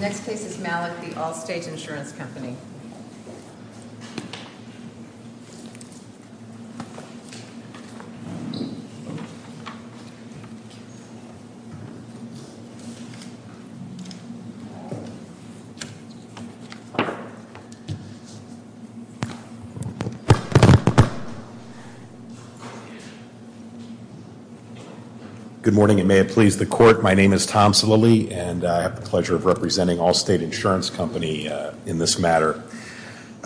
Next case is Malek v. Allstate Insurance Company. Good morning, and may it please the Court, my name is Tom Salili, and I have the pleasure of representing Allstate Insurance Company in this matter.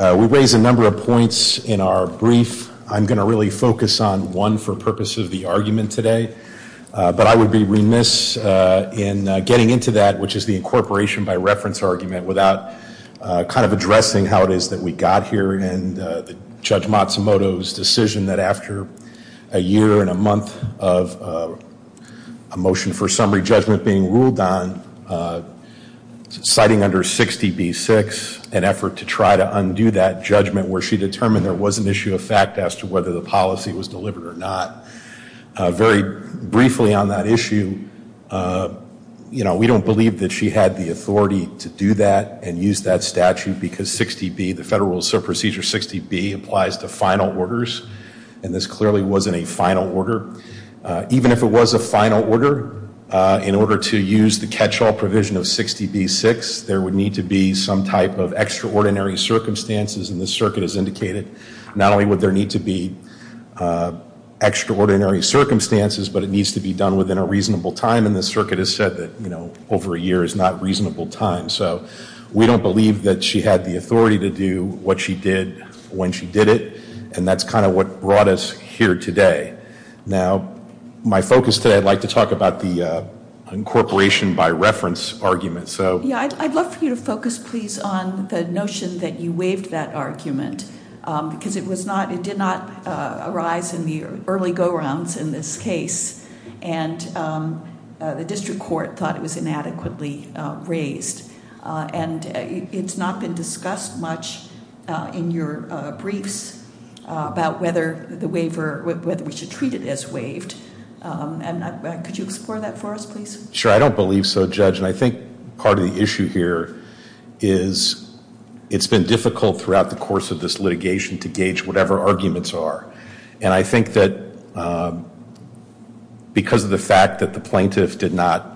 We raised a number of points in our brief. I'm going to really focus on one for purposes of the argument today, but I would be remiss in getting into that, which is the incorporation by reference argument, without kind of addressing how it is that we got here and Judge Matsumoto's decision that after a year and a month of a motion for summary judgment being ruled on, citing under 60B6, an effort to try to undo that judgment where she determined there was an issue of fact as to whether the policy was delivered or not. Very briefly on that issue, you know, we don't believe that she had the authority to do that and use that statute because 60B, the Federal Procedure 60B applies to final orders, and this clearly wasn't a final order. Even if it was a final order, in order to use the catch-all provision of 60B6, there would need to be some type of extraordinary circumstances and this circuit has indicated not only would there need to be extraordinary circumstances, but it needs to be done within a reasonable time, and this circuit has said that, you know, over a year is not a reasonable time. So we don't believe that she had the authority to do what she did when she did it, and that's kind of what brought us here today. Now my focus today, I'd like to talk about the incorporation by reference argument, so I'd love for you to focus, please, on the notion that you waived that argument, because it was not, it did not arise in the early go-rounds in this case, and the District Court thought it was inadequately raised, and it's not been discussed much in your briefs about whether the waiver, whether we should treat it as waived, and could you explore that for us, please? Sure, I don't believe so, Judge, and I think part of the issue here is it's been difficult throughout the course of this litigation to gauge whatever arguments are, and I think that because of the fact that the plaintiff did not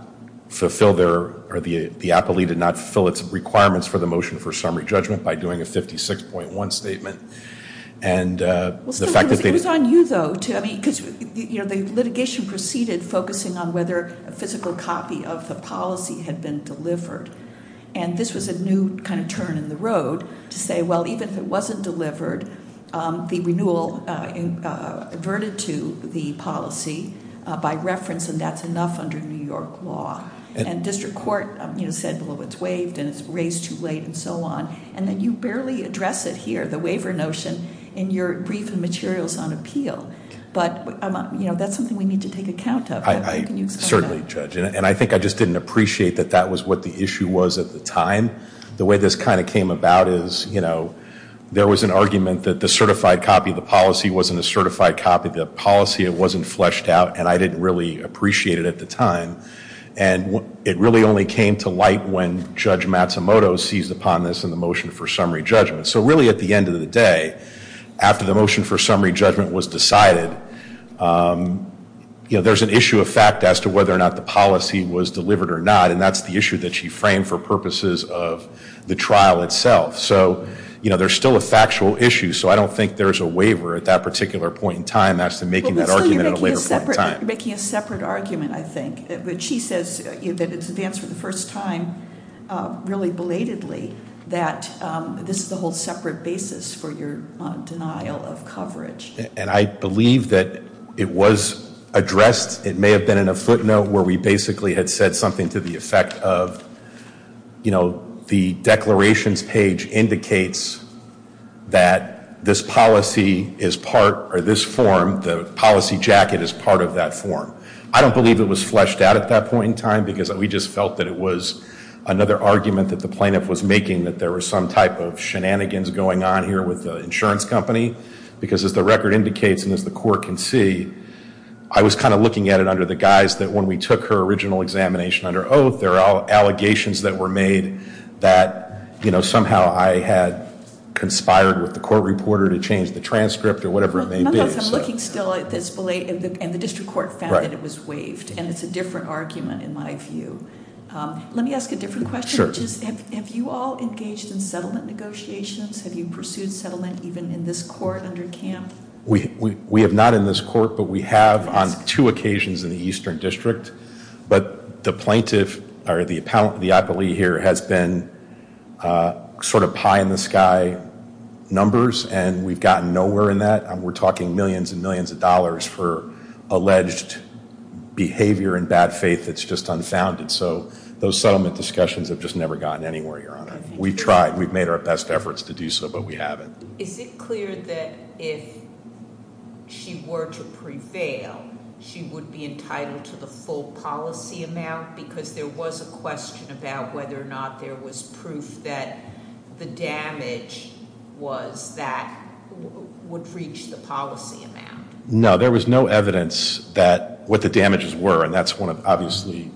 fulfill their, or the appellee did not fulfill its requirements for the motion for summary judgment by doing a 56.1 statement, and the fact that they- Well, it was on you, though, too, I mean, because, you know, the litigation proceeded focusing on whether a physical copy of the policy had been delivered, and this was a new kind of turn in the road to say, well, even if it wasn't delivered, the renewal averted to the policy by reference, and that's enough under New York law, and District Court, you know, said, well, it's waived, and it's raised too late, and so on, and then you barely address it here, the waiver notion, in your brief and materials on appeal, but, you know, that's something we need to take account of. I certainly judge, and I think I just didn't appreciate that that was what the issue was at the time. The way this kind of came about is, you know, there was an argument that the certified copy of the policy wasn't a certified copy of the policy, it wasn't fleshed out, and I didn't really appreciate it at the time, and it really only came to light when Judge Matsumoto seized upon this in the motion for summary judgment, so really, at the end of the day, after the You know, there's an issue of fact as to whether or not the policy was delivered or not, and that's the issue that she framed for purposes of the trial itself, so, you know, there's still a factual issue, so I don't think there's a waiver at that particular point in time as to making that argument at a later point in time. You're making a separate argument, I think, but she says that it's advanced for the first time, really belatedly, that this is a whole separate basis for your denial of coverage. And I believe that it was addressed, it may have been in a footnote where we basically had said something to the effect of, you know, the declarations page indicates that this policy is part, or this form, the policy jacket is part of that form. I don't believe it was fleshed out at that point in time, because we just felt that it was another argument that the plaintiff was making, that there was some type of shenanigans going on here with the insurance company, because as the record indicates and as the court can see, I was kind of looking at it under the guise that when we took her original examination under oath, there are allegations that were made that, you know, somehow I had conspired with the court reporter to change the transcript or whatever it may be. Nonetheless, I'm looking still at this belated, and the district court found that it was waived, and it's a different argument in my view. Let me ask a different question. Sure. Have you all engaged in settlement negotiations? Have you pursued settlement even in this court under CAMF? We have not in this court, but we have on two occasions in the Eastern District. But the plaintiff, or the appellee here, has been sort of pie in the sky numbers, and we've gotten nowhere in that. We're talking millions and millions of dollars for alleged behavior and bad faith that's just unfounded. So those settlement discussions have just never gotten anywhere, Your Honor. We've tried. We've made our best efforts to do so, but we haven't. Is it clear that if she were to prevail, she would be entitled to the full policy amount? Because there was a question about whether or not there was proof that the damage was that would reach the policy amount. No. There was no evidence that what the damages were, and that's one of, obviously,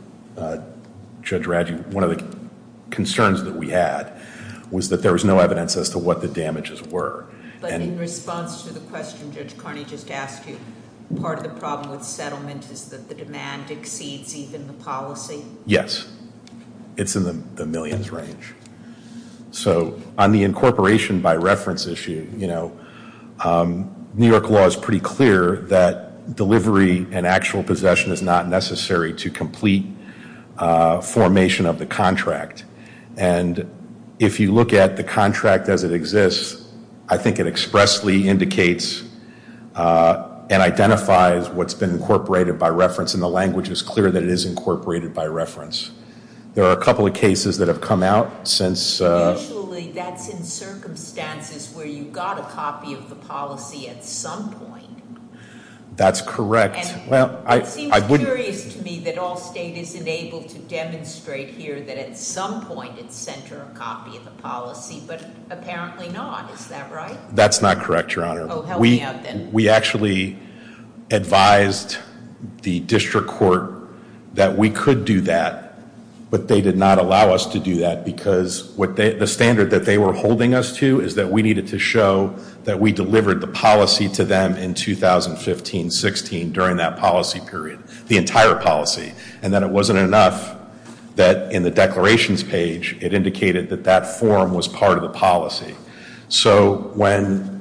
Judge Radjou, one of the concerns that we had was that there was no evidence as to what the damages were. But in response to the question Judge Carney just asked you, part of the problem with settlement is that the demand exceeds even the policy? Yes. It's in the millions range. So on the incorporation by reference issue, you know, New York law is pretty clear that delivery and actual possession is not necessary to complete formation of the contract. And if you look at the contract as it exists, I think it expressly indicates and identifies what's been incorporated by reference, and the language is clear that it is incorporated by reference. There are a couple of cases that have come out since... Usually that's in circumstances where you got a copy of the policy at some point. That's correct. It seems curious to me that all state is enabled to demonstrate here that at some point it sent her a copy of the policy, but apparently not. Is that right? That's not correct, Your Honor. Oh, help me out then. We actually advised the district court that we could do that, but they did not allow us to do that because the standard that they were holding us to is that we needed to show that we delivered the policy to them in 2015-16 during that policy period, the entire policy. And then it wasn't enough that in the declarations page it indicated that that form was part of the policy. So when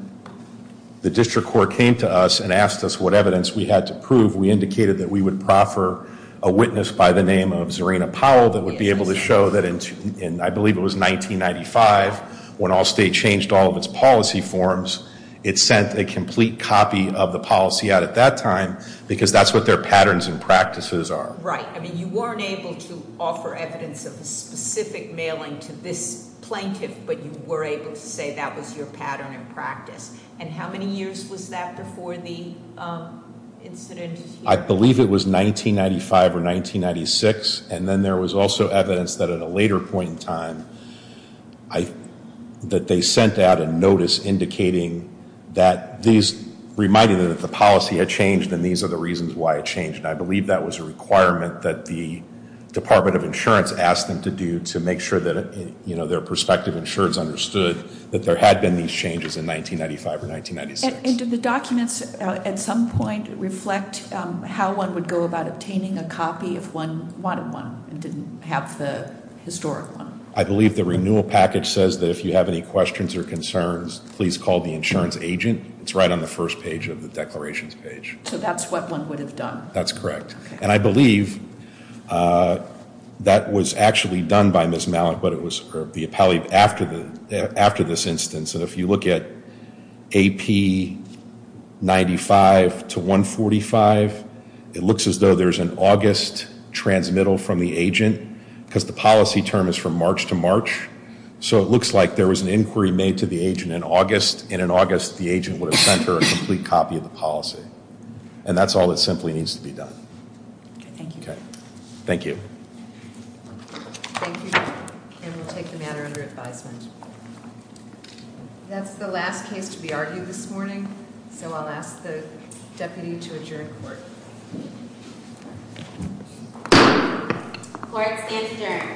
the district court came to us and asked us what evidence we had to prove, we indicated that we would proffer a witness by the name of Zerina Powell that would be able to show that in, I believe it was 1995, when all state changed all of its policy forms, it sent a complete copy of the policy out at that time because that's what their patterns and practices are. Right. I mean, you weren't able to offer evidence of a specific mailing to this plaintiff, but you were able to say that was your pattern and practice. And how many years was that before the incident? I believe it was 1995 or 1996. And then there was also evidence that at a later point in time that they sent out a notice indicating that these reminded them that the policy had changed and these are the reasons why it changed. And I believe that was a requirement that the Department of Insurance asked them to to make sure that their prospective insureds understood that there had been these changes in 1995 or 1996. And did the documents at some point reflect how one would go about obtaining a copy if one wanted one and didn't have the historic one? I believe the renewal package says that if you have any questions or concerns, please call the insurance agent. It's right on the first page of the declarations page. So that's what one would have done? That's correct. And I believe that was actually done by Ms. Mallett, but it was the appellee after this instance. And if you look at AP 95 to 145, it looks as though there's an August transmittal from the agent, because the policy term is from March to March. So it looks like there was an inquiry made to the agent in August, and in August the agent would have sent her a complete copy of the policy. And that's all that simply needs to be done. Thank you. Thank you. And we'll take the matter under advisement. That's the last case to be argued this morning, so I'll ask the deputy to adjourn court. Thank you. Thank you. Thank you. Thank you.